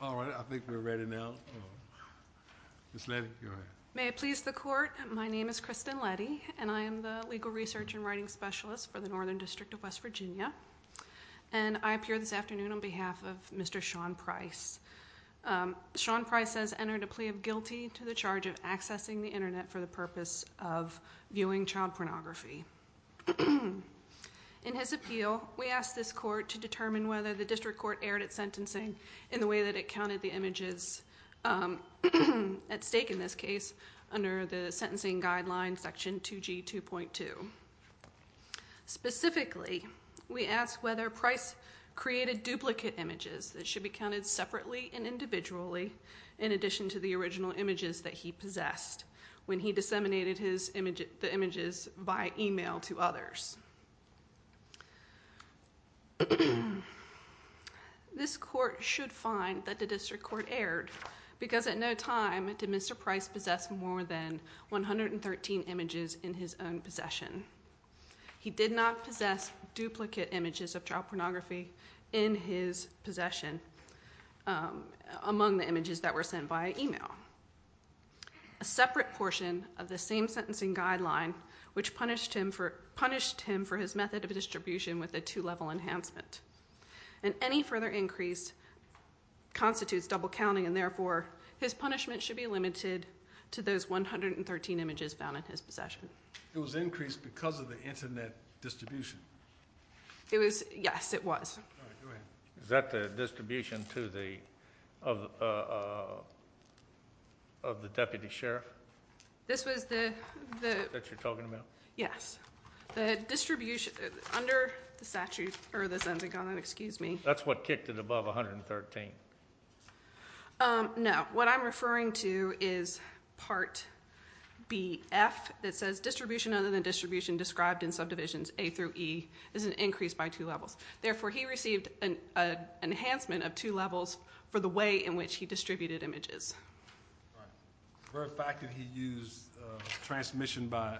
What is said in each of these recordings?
All right, I think we're ready now. Ms. Letty, go ahead. May it please the Court, my name is Kristen Letty, and I am the Legal Research and Writing Specialist for the Northern District of West Virginia, and I appear this afternoon on behalf of Mr. Sean Price. Sean Price has entered a plea of guilty to the charge of accessing the Internet for the purpose of viewing child pornography. In his appeal, we asked this Court to determine whether the District Court erred at sentencing in the way that it counted the images at stake in this case under the sentencing guideline section 2G 2.2. Specifically, we asked whether Price created duplicate images that should be counted separately and individually in addition to the original images that he possessed when he disseminated the images via email to others. This Court should find that the District Court erred because at no time did Mr. Price possess more than 113 images in his own possession. He did not possess duplicate images of child pornography in his possession among the images that were sent via email. A separate portion of the same sentencing guideline, which punished him for his method of distribution with a two-level enhancement, and any further increase constitutes double counting, and therefore his punishment should be limited to those 113 images found in his possession. It was increased because of the Internet distribution? Yes, it was. Is that the distribution of the deputy sheriff? This was the... That you're talking about? Yes. The distribution under the sentencing guideline. That's what kicked it above 113? No. What I'm referring to is Part BF that says distribution other than distribution described in subdivisions A through E is an increase by two levels. Therefore, he received an enhancement of two levels for the way in which he distributed images. All right. The very fact that he used transmission by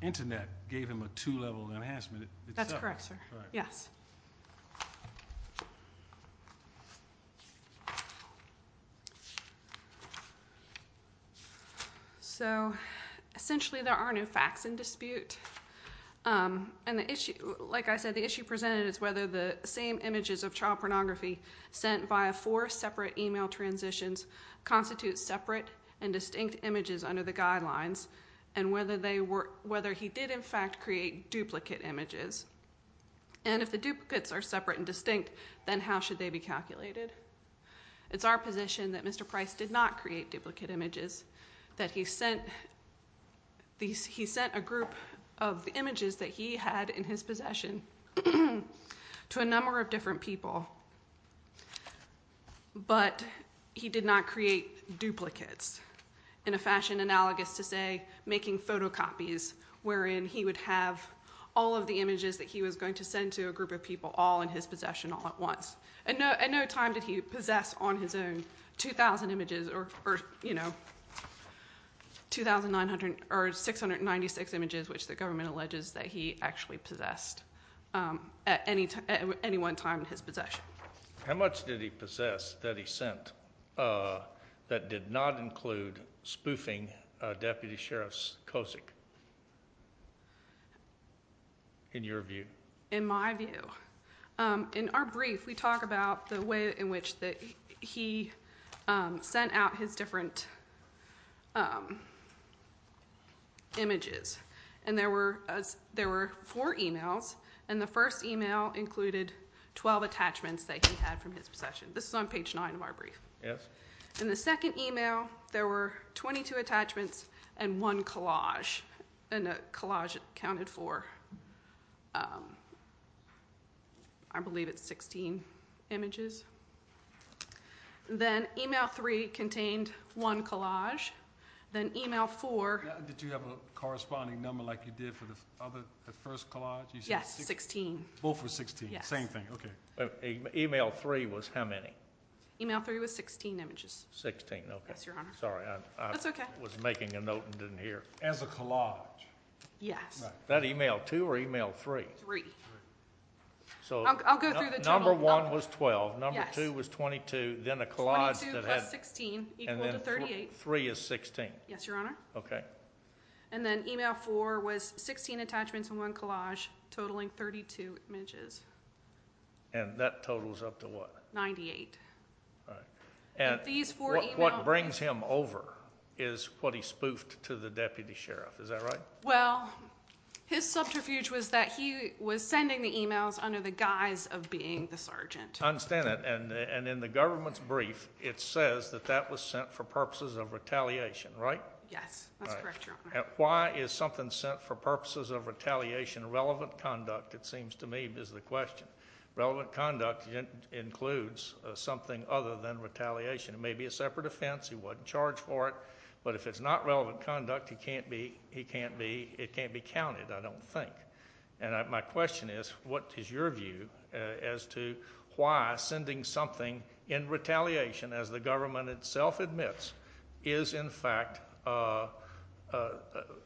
Internet gave him a two-level enhancement itself? That's correct, sir. All right. Yes. Essentially, there are no facts in dispute. Like I said, the issue presented is whether the same images of child pornography sent via four separate email transitions constitute separate and distinct images under the guidelines, and whether he did, in fact, create duplicate images. And if the duplicates are separate and distinct, then how should they be calculated? It's our position that Mr. Price did not create duplicate images, that he sent a group of images that he had in his possession to a number of different people, but he did not create duplicates in a fashion analogous to, say, making photocopies, wherein he would have all of the images that he was going to send to a group of people all in his possession all at once. At no time did he possess on his own 2,000 images or 696 images, which the government alleges that he actually possessed at any one time in his possession. How much did he possess that he sent that did not include spoofing Deputy Sheriff Kosick, in your view? In my view? No. In our brief, we talk about the way in which he sent out his different images, and there were four emails, and the first email included 12 attachments that he had from his possession. This is on page 9 of our brief. In the second email, there were 22 attachments and one collage, and a collage accounted for, I believe it's 16 images. Then email 3 contained one collage. Then email 4- Did you have a corresponding number like you did for the first collage? Yes, 16. Both were 16? Yes. Same thing, okay. Email 3 was how many? Email 3 was 16 images. 16, okay. Yes, Your Honor. Sorry, I was making a note and didn't hear. As a collage? Yes. That email 2 or email 3? 3. I'll go through the total. Number 1 was 12, number 2 was 22, then a collage that had- 22 plus 16, equal to 38. And then 3 is 16? Yes, Your Honor. Okay. And then email 4 was 16 attachments and one collage, totaling 32 images. And that totals up to what? 98. All right. And these four emails- What brings him over is what he spoofed to the deputy sheriff. Is that right? Well, his subterfuge was that he was sending the emails under the guise of being the sergeant. I understand that. And in the government's brief, it says that that was sent for purposes of retaliation, right? Yes, that's correct, Your Honor. Why is something sent for purposes of retaliation relevant conduct, it seems to me, is the question. Relevant conduct includes something other than retaliation. It may be a separate offense. He wasn't charged for it. But if it's not relevant conduct, it can't be counted, I don't think. And my question is, what is your view as to why sending something in retaliation, as the government itself admits, is, in fact,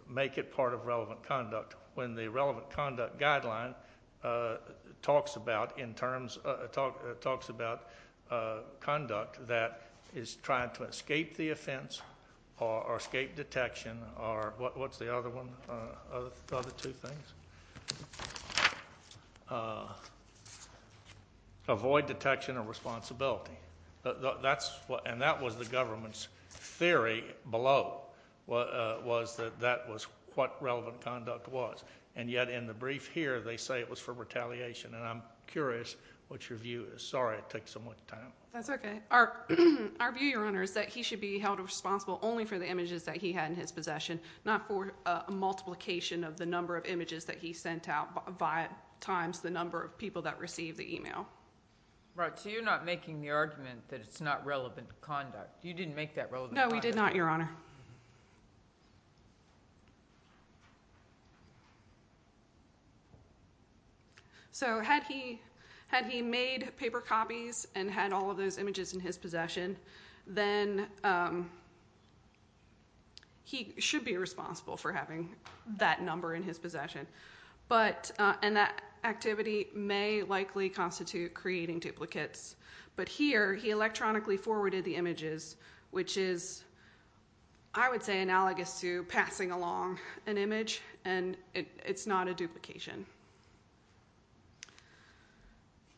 make it part of relevant conduct? When the relevant conduct guideline talks about conduct that is trying to escape the offense or escape detection or what's the other one? The other two things? Avoid detection or responsibility. And that was the government's theory below was that that was what relevant conduct was. And yet in the brief here, they say it was for retaliation. And I'm curious what your view is. Sorry it takes so much time. That's okay. Our view, Your Honor, is that he should be held responsible only for the images that he had in his possession, not for a multiplication of the number of images that he sent out times the number of people that received the email. So you're not making the argument that it's not relevant conduct. You didn't make that relevant conduct. No, we did not, Your Honor. So had he made paper copies and had all of those images in his possession, then he should be responsible for having that number in his possession. And that activity may likely constitute creating duplicates. But here, he electronically forwarded the images, which is, I would say, analogous to passing along an image, and it's not a duplication.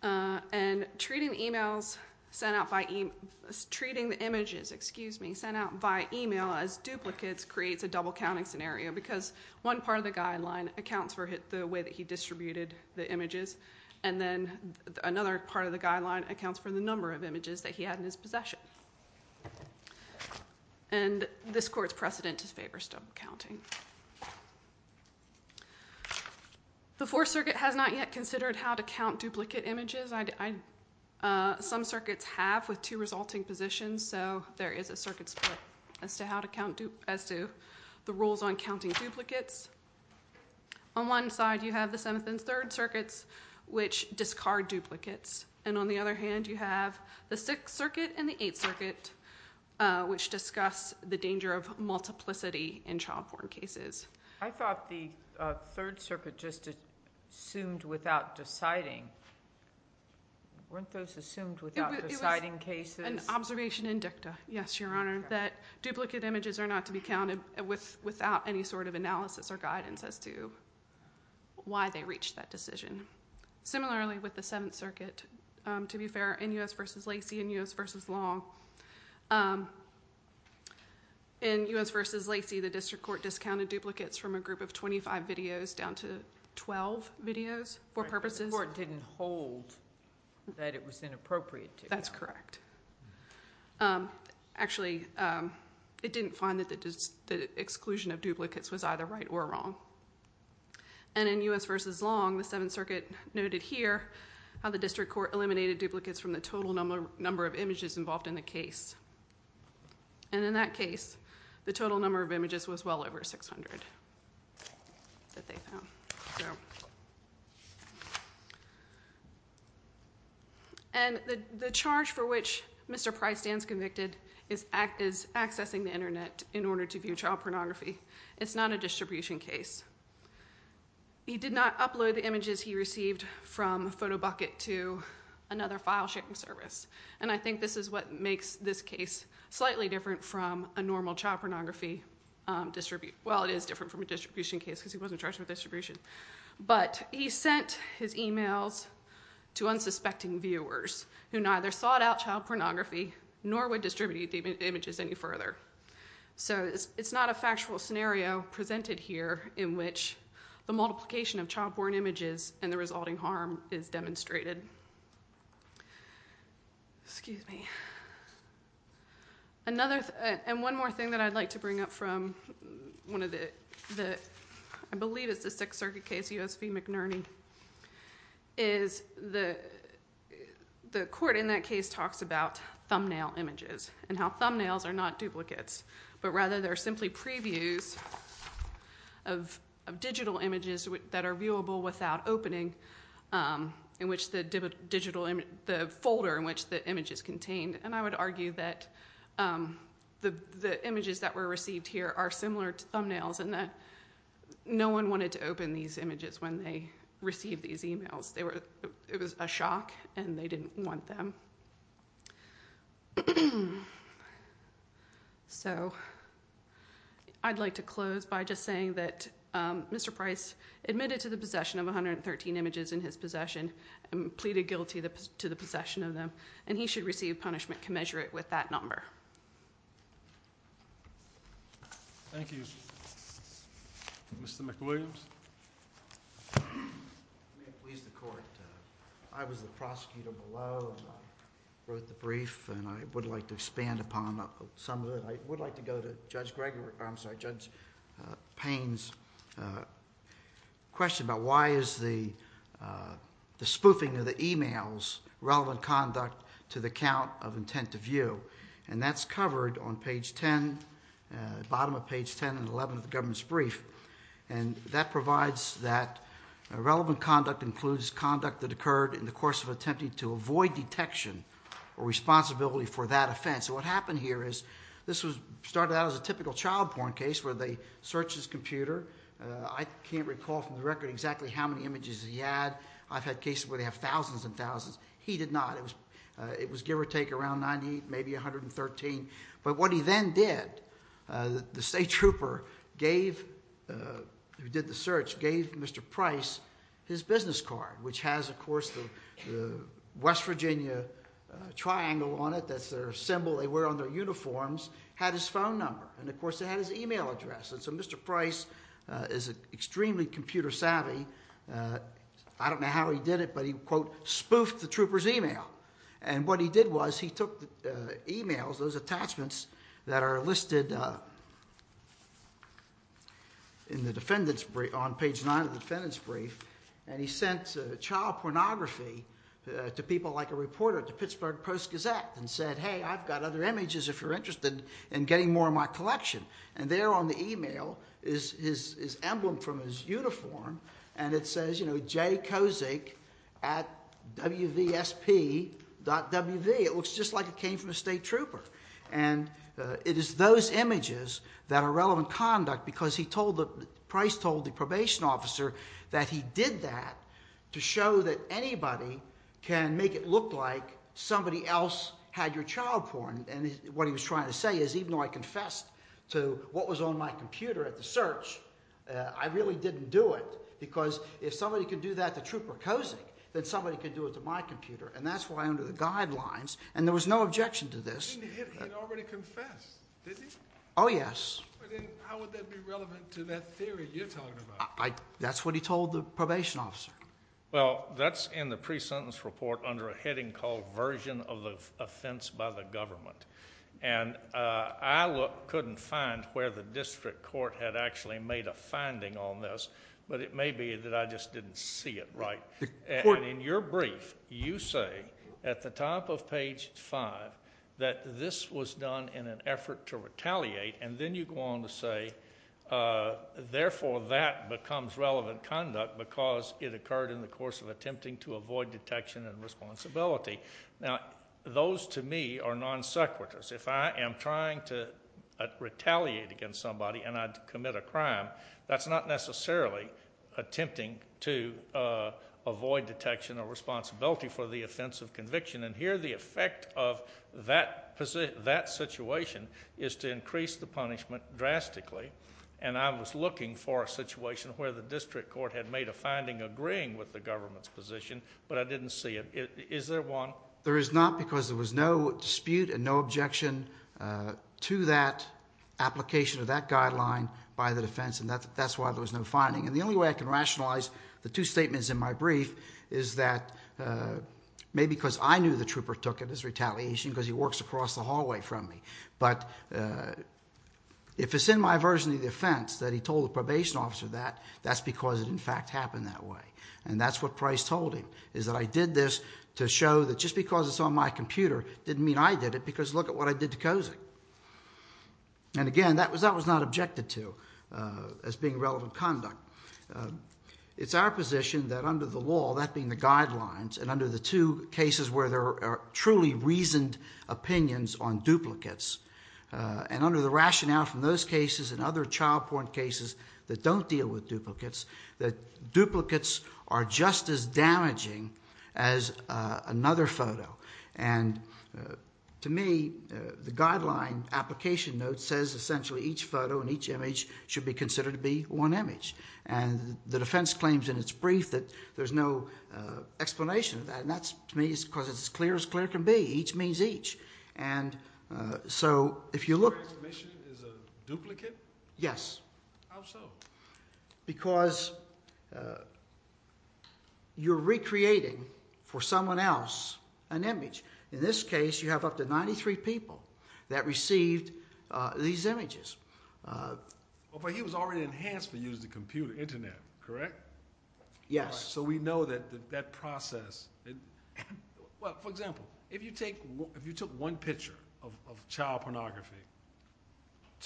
And treating the images sent out via email as duplicates creates a double-counting scenario, because one part of the guideline accounts for the way that he distributed the images, and then another part of the guideline accounts for the number of images that he had in his possession. And this court's precedent disfavors double-counting. The Fourth Circuit has not yet considered how to count duplicate images. Some circuits have with two resulting positions, so there is a circuit split as to the rules on counting duplicates. On one side, you have the Seventh and Third Circuits, which discard duplicates. And on the other hand, you have the Sixth Circuit and the Eighth Circuit, which discuss the danger of multiplicity in child-born cases. I thought the Third Circuit just assumed without deciding. Weren't those assumed without deciding cases? It was an observation in dicta, yes, Your Honor, that duplicate images are not to be counted without any sort of analysis or guidance as to why they reached that decision. Similarly, with the Seventh Circuit, to be fair, in U.S. v. Lacey and U.S. v. Long, in U.S. v. Lacey, the district court discounted duplicates from a group of 25 videos down to 12 videos for purposes. The court didn't hold that it was inappropriate to count. That's correct. Actually, it didn't find that the exclusion of duplicates was either right or wrong. And in U.S. v. Long, the Seventh Circuit noted here how the district court eliminated duplicates from the total number of images involved in the case. And in that case, the total number of images was well over 600 that they found. And the charge for which Mr. Prystan's convicted is accessing the Internet in order to view child pornography. It's not a distribution case. He did not upload the images he received from Photobucket to another file sharing service. And I think this is what makes this case slightly different from a normal child pornography distribution. Well, it is different from a distribution case because he wasn't charged with distribution. But he sent his emails to unsuspecting viewers who neither sought out child pornography nor would distribute the images any further. So it's not a factual scenario presented here in which the multiplication of child-born images and the resulting harm is demonstrated. And one more thing that I'd like to bring up from one of the, I believe it's the Sixth Circuit case, U.S. v. McNerney, is the court in that case talks about thumbnail images and how thumbnails are not duplicates. But rather they're simply previews of digital images that are viewable without opening in which the folder in which the image is contained. And I would argue that the images that were received here are similar to thumbnails and that no one wanted to open these images when they received these emails. It was a shock and they didn't want them. So I'd like to close by just saying that Mr. Price admitted to the possession of 113 images in his possession and pleaded guilty to the possession of them, and he should receive punishment commensurate with that number. Thank you. Mr. McWilliams. May it please the Court. I was the prosecutor below and I wrote the brief and I would like to expand upon some of it. I would like to go to Judge Payne's question about why is the spoofing of the emails relevant conduct to the count of intent to view? And that's covered on page 10, bottom of page 10 and 11 of the government's brief. And that provides that relevant conduct includes conduct that occurred in the course of attempting to avoid detection or responsibility for that offense. So what happened here is this started out as a typical child porn case where they searched his computer. I can't recall from the record exactly how many images he had. I've had cases where they have thousands and thousands. He did not. It was give or take around 98, maybe 113. But what he then did, the state trooper who did the search gave Mr. Price his business card, which has, of course, the West Virginia triangle on it. That's their symbol they wear on their uniforms. It had his phone number and, of course, it had his email address. And so Mr. Price is extremely computer savvy. I don't know how he did it, but he, quote, spoofed the trooper's email. And what he did was he took emails, those attachments that are listed on page 9 of the defendant's brief, and he sent child pornography to people like a reporter at the Pittsburgh Post-Gazette and said, hey, I've got other images if you're interested in getting more of my collection. And there on the email is his emblem from his uniform, and it says, you know, jkozik at wvsp.wv. It looks just like it came from a state trooper. And it is those images that are relevant conduct because he told the – Price told the probation officer that he did that to show that anybody can make it look like somebody else had your child porn. And what he was trying to say is even though I confessed to what was on my computer at the search, I really didn't do it because if somebody could do that to Trooper Kozik, then somebody could do it to my computer. And that's why under the guidelines – and there was no objection to this. He had already confessed, didn't he? Oh, yes. How would that be relevant to that theory you're talking about? That's what he told the probation officer. Well, that's in the pre-sentence report under a heading called Version of the Offense by the Government. And I couldn't find where the district court had actually made a finding on this, but it may be that I just didn't see it right. And in your brief, you say at the top of page 5 that this was done in an effort to retaliate, and then you go on to say, therefore, that becomes relevant conduct because it occurred in the course of attempting to avoid detection and responsibility. Now, those to me are non sequiturs. If I am trying to retaliate against somebody and I commit a crime, that's not necessarily attempting to avoid detection or responsibility for the offense of conviction. And here the effect of that situation is to increase the punishment drastically, and I was looking for a situation where the district court had made a finding agreeing with the government's position, but I didn't see it. Is there one? There is not because there was no dispute and no objection to that application or that guideline by the defense, and that's why there was no finding. And the only way I can rationalize the two statements in my brief is that maybe because I knew the trooper took it as retaliation because he works across the hallway from me. But if it's in my version of the offense that he told the probation officer that, that's because it in fact happened that way, and that's what Price told him is that I did this to show that just because it's on my computer didn't mean I did it because look at what I did to Kozik. And again, that was not objected to as being relevant conduct. It's our position that under the law, that being the guidelines, and under the two cases where there are truly reasoned opinions on duplicates, and under the rationale from those cases and other child porn cases that don't deal with duplicates, that duplicates are just as damaging as another photo. And to me, the guideline application note says essentially each photo and each image should be considered to be one image. And the defense claims in its brief that there's no explanation of that, and that to me is because it's as clear as clear can be. Each means each. And so if you look. Your explanation is a duplicate? Yes. How so? Because you're recreating for someone else an image. In this case, you have up to 93 people that received these images. But he was already enhanced for use of the computer, Internet, correct? Yes. So we know that that process. Well, for example, if you took one picture of child pornography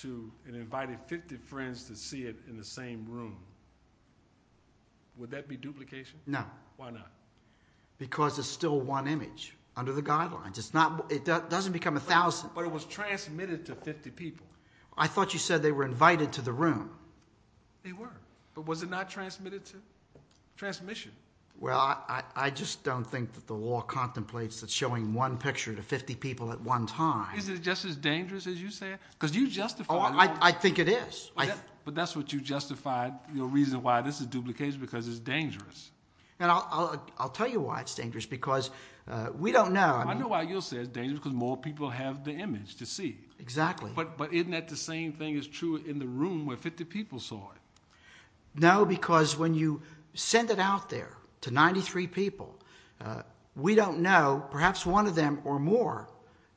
and invited 50 friends to see it in the same room, would that be duplication? No. Why not? Because it's still one image under the guidelines. It doesn't become 1,000. But it was transmitted to 50 people. I thought you said they were invited to the room. They were. But was it not transmitted to transmission? Well, I just don't think that the law contemplates that showing one picture to 50 people at one time. Is it just as dangerous as you said? Because you justified. I think it is. But that's what you justified, your reason why this is duplication, because it's dangerous. And I'll tell you why it's dangerous, because we don't know. I know why you'll say it's dangerous, because more people have the image to see. Exactly. But isn't that the same thing is true in the room where 50 people saw it? No, because when you send it out there to 93 people, we don't know. Perhaps one of them or more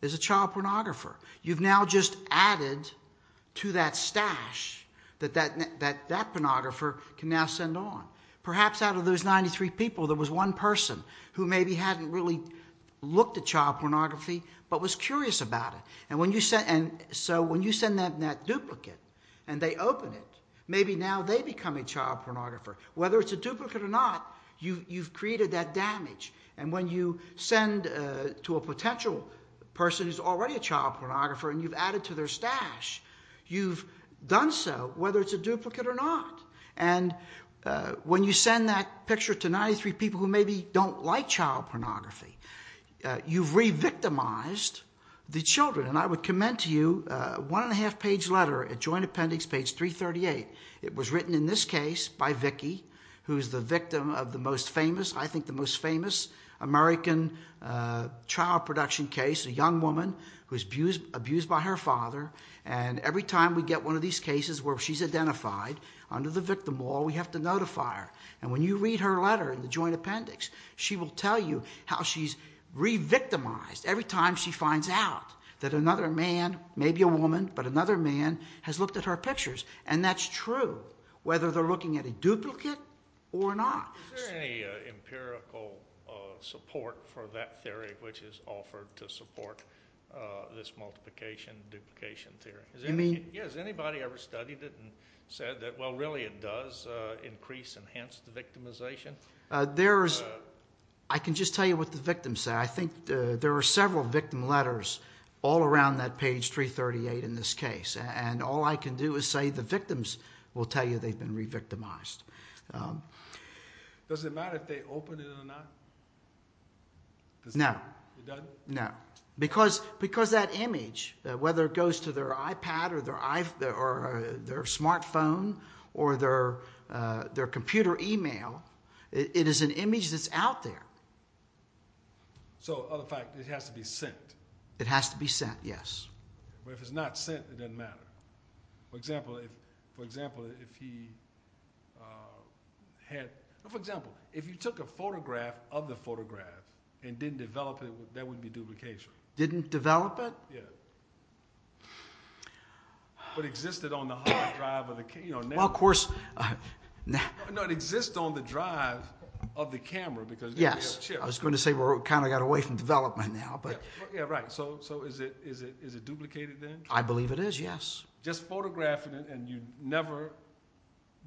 is a child pornographer. You've now just added to that stash that that pornographer can now send on. Perhaps out of those 93 people, there was one person who maybe hadn't really looked at child pornography but was curious about it. So when you send them that duplicate and they open it, maybe now they become a child pornographer. Whether it's a duplicate or not, you've created that damage. And when you send to a potential person who's already a child pornographer and you've added to their stash, you've done so, whether it's a duplicate or not. And when you send that picture to 93 people who maybe don't like child pornography, you've re-victimized the children. And I would commend to you a one-and-a-half-page letter at Joint Appendix page 338. It was written in this case by Vicki, who's the victim of the most famous, I think the most famous, American child production case. A young woman who's abused by her father. And every time we get one of these cases where she's identified, under the victim law, we have to notify her. And when you read her letter in the Joint Appendix, she will tell you how she's re-victimized every time she finds out that another man, maybe a woman, but another man, has looked at her pictures. And that's true, whether they're looking at a duplicate or not. Is there any empirical support for that theory which is offered to support this multiplication-duplication theory? You mean? Yeah, has anybody ever studied it and said that, well, really it does increase enhanced victimization? There is. I can just tell you what the victims say. I think there are several victim letters all around that page 338 in this case. And all I can do is say the victims will tell you they've been re-victimized. Does it matter if they open it or not? No. It doesn't? No. Because that image, whether it goes to their iPad or their smartphone or their computer email, it is an image that's out there. So, other than that, it has to be sent? It has to be sent, yes. But if it's not sent, it doesn't matter. For example, if you took a photograph of the photograph and didn't develop it, that would be duplication. Didn't develop it? Yeah. But existed on the hard drive of the camera. Well, of course. No, it exists on the drive of the camera. Yes. I was going to say we kind of got away from development now. Yeah, right. So is it duplicated then? I believe it is, yes. Just photographing it and you never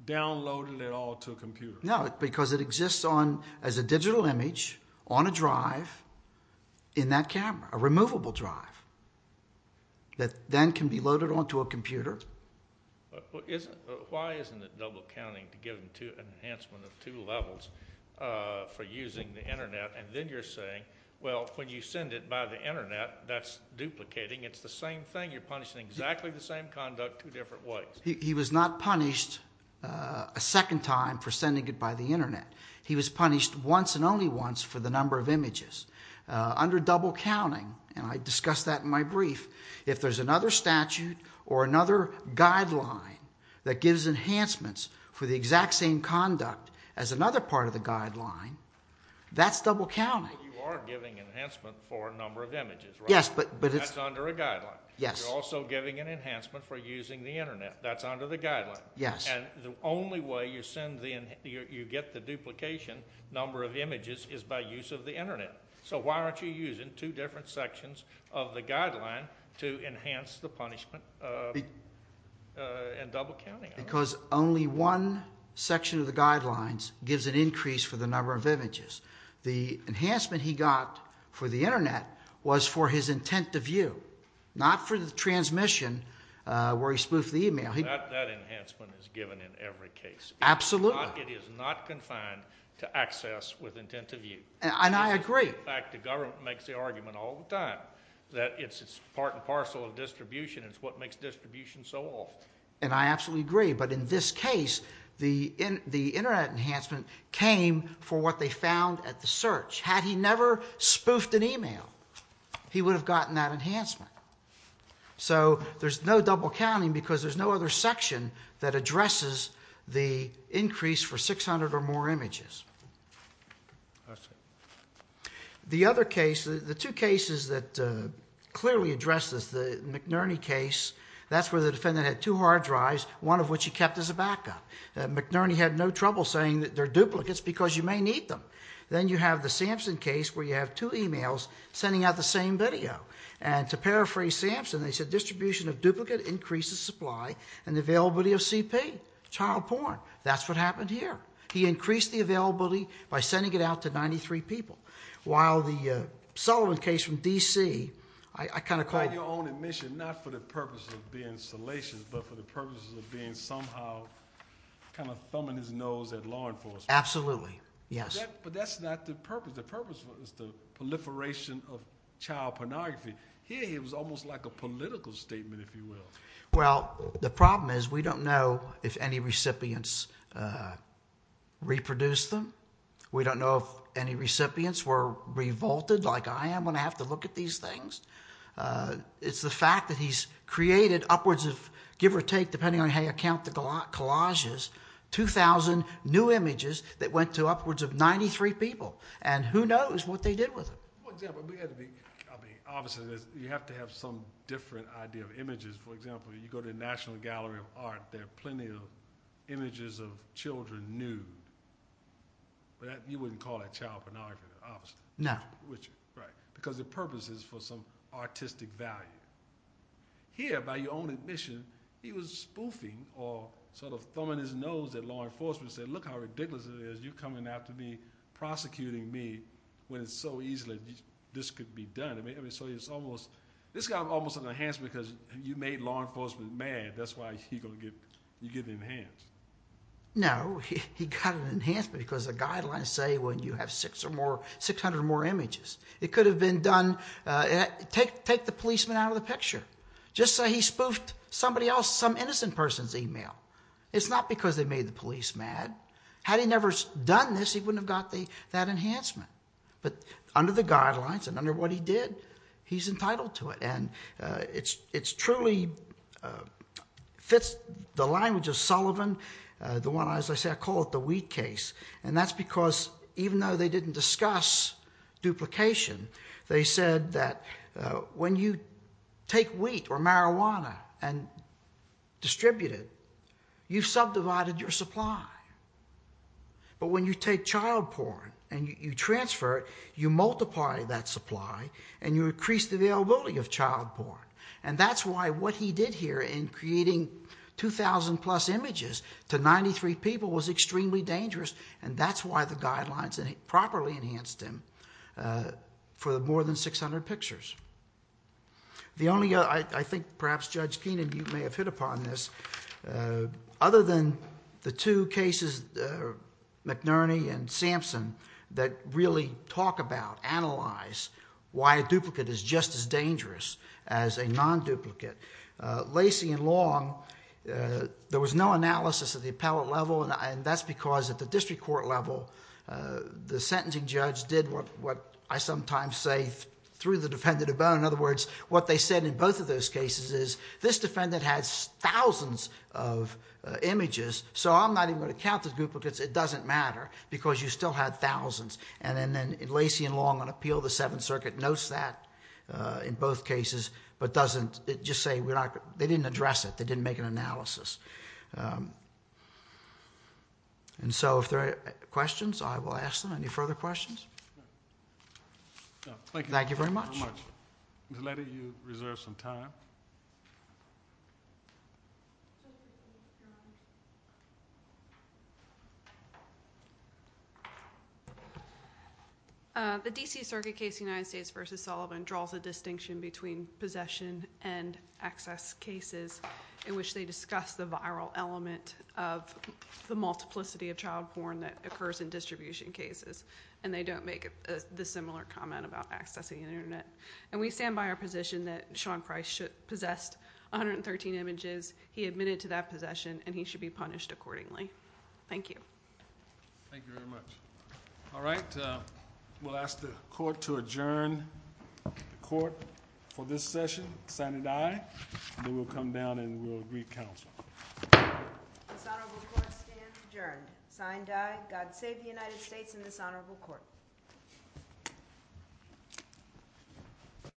downloaded it all to a computer? No, because it exists as a digital image on a drive in that camera, a removable drive, that then can be loaded onto a computer. Why isn't it double counting to give an enhancement of two levels for using the Internet? And then you're saying, well, when you send it by the Internet, that's duplicating. It's the same thing. You're punishing exactly the same conduct two different ways. He was not punished a second time for sending it by the Internet. He was punished once and only once for the number of images. Under double counting, and I discussed that in my brief, if there's another statute or another guideline that gives enhancements for the exact same conduct as another part of the guideline, that's double counting. You are giving enhancement for a number of images, right? Yes, but it's… That's under a guideline. Yes. You're also giving an enhancement for using the Internet. That's under the guideline. Yes. And the only way you get the duplication number of images is by use of the Internet. So why aren't you using two different sections of the guideline to enhance the punishment in double counting? Because only one section of the guidelines gives an increase for the number of images. The enhancement he got for the Internet was for his intent to view, not for the transmission where he spoofed the email. That enhancement is given in every case. Absolutely. It is not confined to access with intent to view. And I agree. In fact, the government makes the argument all the time that it's part and parcel of distribution. It's what makes distribution so awful. And I absolutely agree. But in this case, the Internet enhancement came for what they found at the search. Had he never spoofed an email, he would have gotten that enhancement. So there's no double counting because there's no other section that addresses the increase for 600 or more images. I see. The other case, the two cases that clearly addresses the McNerney case, that's where the defendant had two hard drives, one of which he kept as a backup. McNerney had no trouble saying that they're duplicates because you may need them. Then you have the Sampson case where you have two emails sending out the same video. And to paraphrase Sampson, they said distribution of duplicate increases supply and availability of CP, child porn. That's what happened here. He increased the availability by sending it out to 93 people. While the Sullivan case from D.C. I kind of call it- On your own admission, not for the purpose of being salacious, but for the purpose of being somehow kind of thumbing his nose at law enforcement. Absolutely. Yes. But that's not the purpose. The purpose is the proliferation of child pornography. Here it was almost like a political statement, if you will. Well, the problem is we don't know if any recipients reproduced them. We don't know if any recipients were revolted like I am when I have to look at these things. It's the fact that he's created upwards of, give or take, depending on how you count the collages, 2,000 new images that went to upwards of 93 people. And who knows what they did with them? Obviously, you have to have some different idea of images. For example, you go to the National Gallery of Art, there are plenty of images of children nude. You wouldn't call that child pornography, obviously. No. Right. Because the purpose is for some artistic value. Here, by your own admission, he was spoofing or sort of thumbing his nose at law enforcement and said, Look how ridiculous it is. You're coming after me, prosecuting me when it's so easy that this could be done. I mean, so it's almost—this got almost an enhancement because you made law enforcement mad. That's why you're getting enhanced. No. He got an enhancement because the guidelines say when you have 600 or more images, it could have been done—take the policeman out of the picture. Just say he spoofed somebody else, some innocent person's email. It's not because they made the police mad. Had he never done this, he wouldn't have got that enhancement. But under the guidelines and under what he did, he's entitled to it. And it truly fits the language of Sullivan, the one, as I say, I call it the wheat case. And that's because even though they didn't discuss duplication, they said that when you take wheat or marijuana and distribute it, you've subdivided your supply. But when you take child porn and you transfer it, you multiply that supply and you increase the availability of child porn. And that's why what he did here in creating 2,000 plus images to 93 people was extremely dangerous. And that's why the guidelines properly enhanced him for more than 600 pictures. The only other—I think perhaps Judge Keenan, you may have hit upon this. Other than the two cases, McNerney and Sampson, that really talk about, analyze why a duplicate is just as dangerous as a non-duplicate, Lacey and Long, there was no analysis at the appellate level. And that's because at the district court level, the sentencing judge did what I sometimes say, threw the defendant a bone. In other words, what they said in both of those cases is, this defendant has thousands of images, so I'm not even going to count the duplicates. It doesn't matter because you still had thousands. And then Lacey and Long on appeal of the Seventh Circuit notes that in both cases, but doesn't—they didn't address it. They didn't make an analysis. And so if there are questions, I will ask them. Any further questions? Thank you very much. Ms. Leddy, you reserve some time. The D.C. Circuit case, United States v. Sullivan, draws a distinction between possession and access cases in which they discuss the viral element of the multiplicity of child porn that occurs in distribution cases. And they don't make the similar comment about accessing the Internet. And we stand by our position that Sean Price possessed 113 images. He admitted to that possession, and he should be punished accordingly. Thank you. Thank you very much. All right. We'll ask the court to adjourn the court for this session. Signed, aye. And then we'll come down and we'll agree counsel. Dishonorable court stands adjourned. Signed, aye. God save the United States and this honorable court.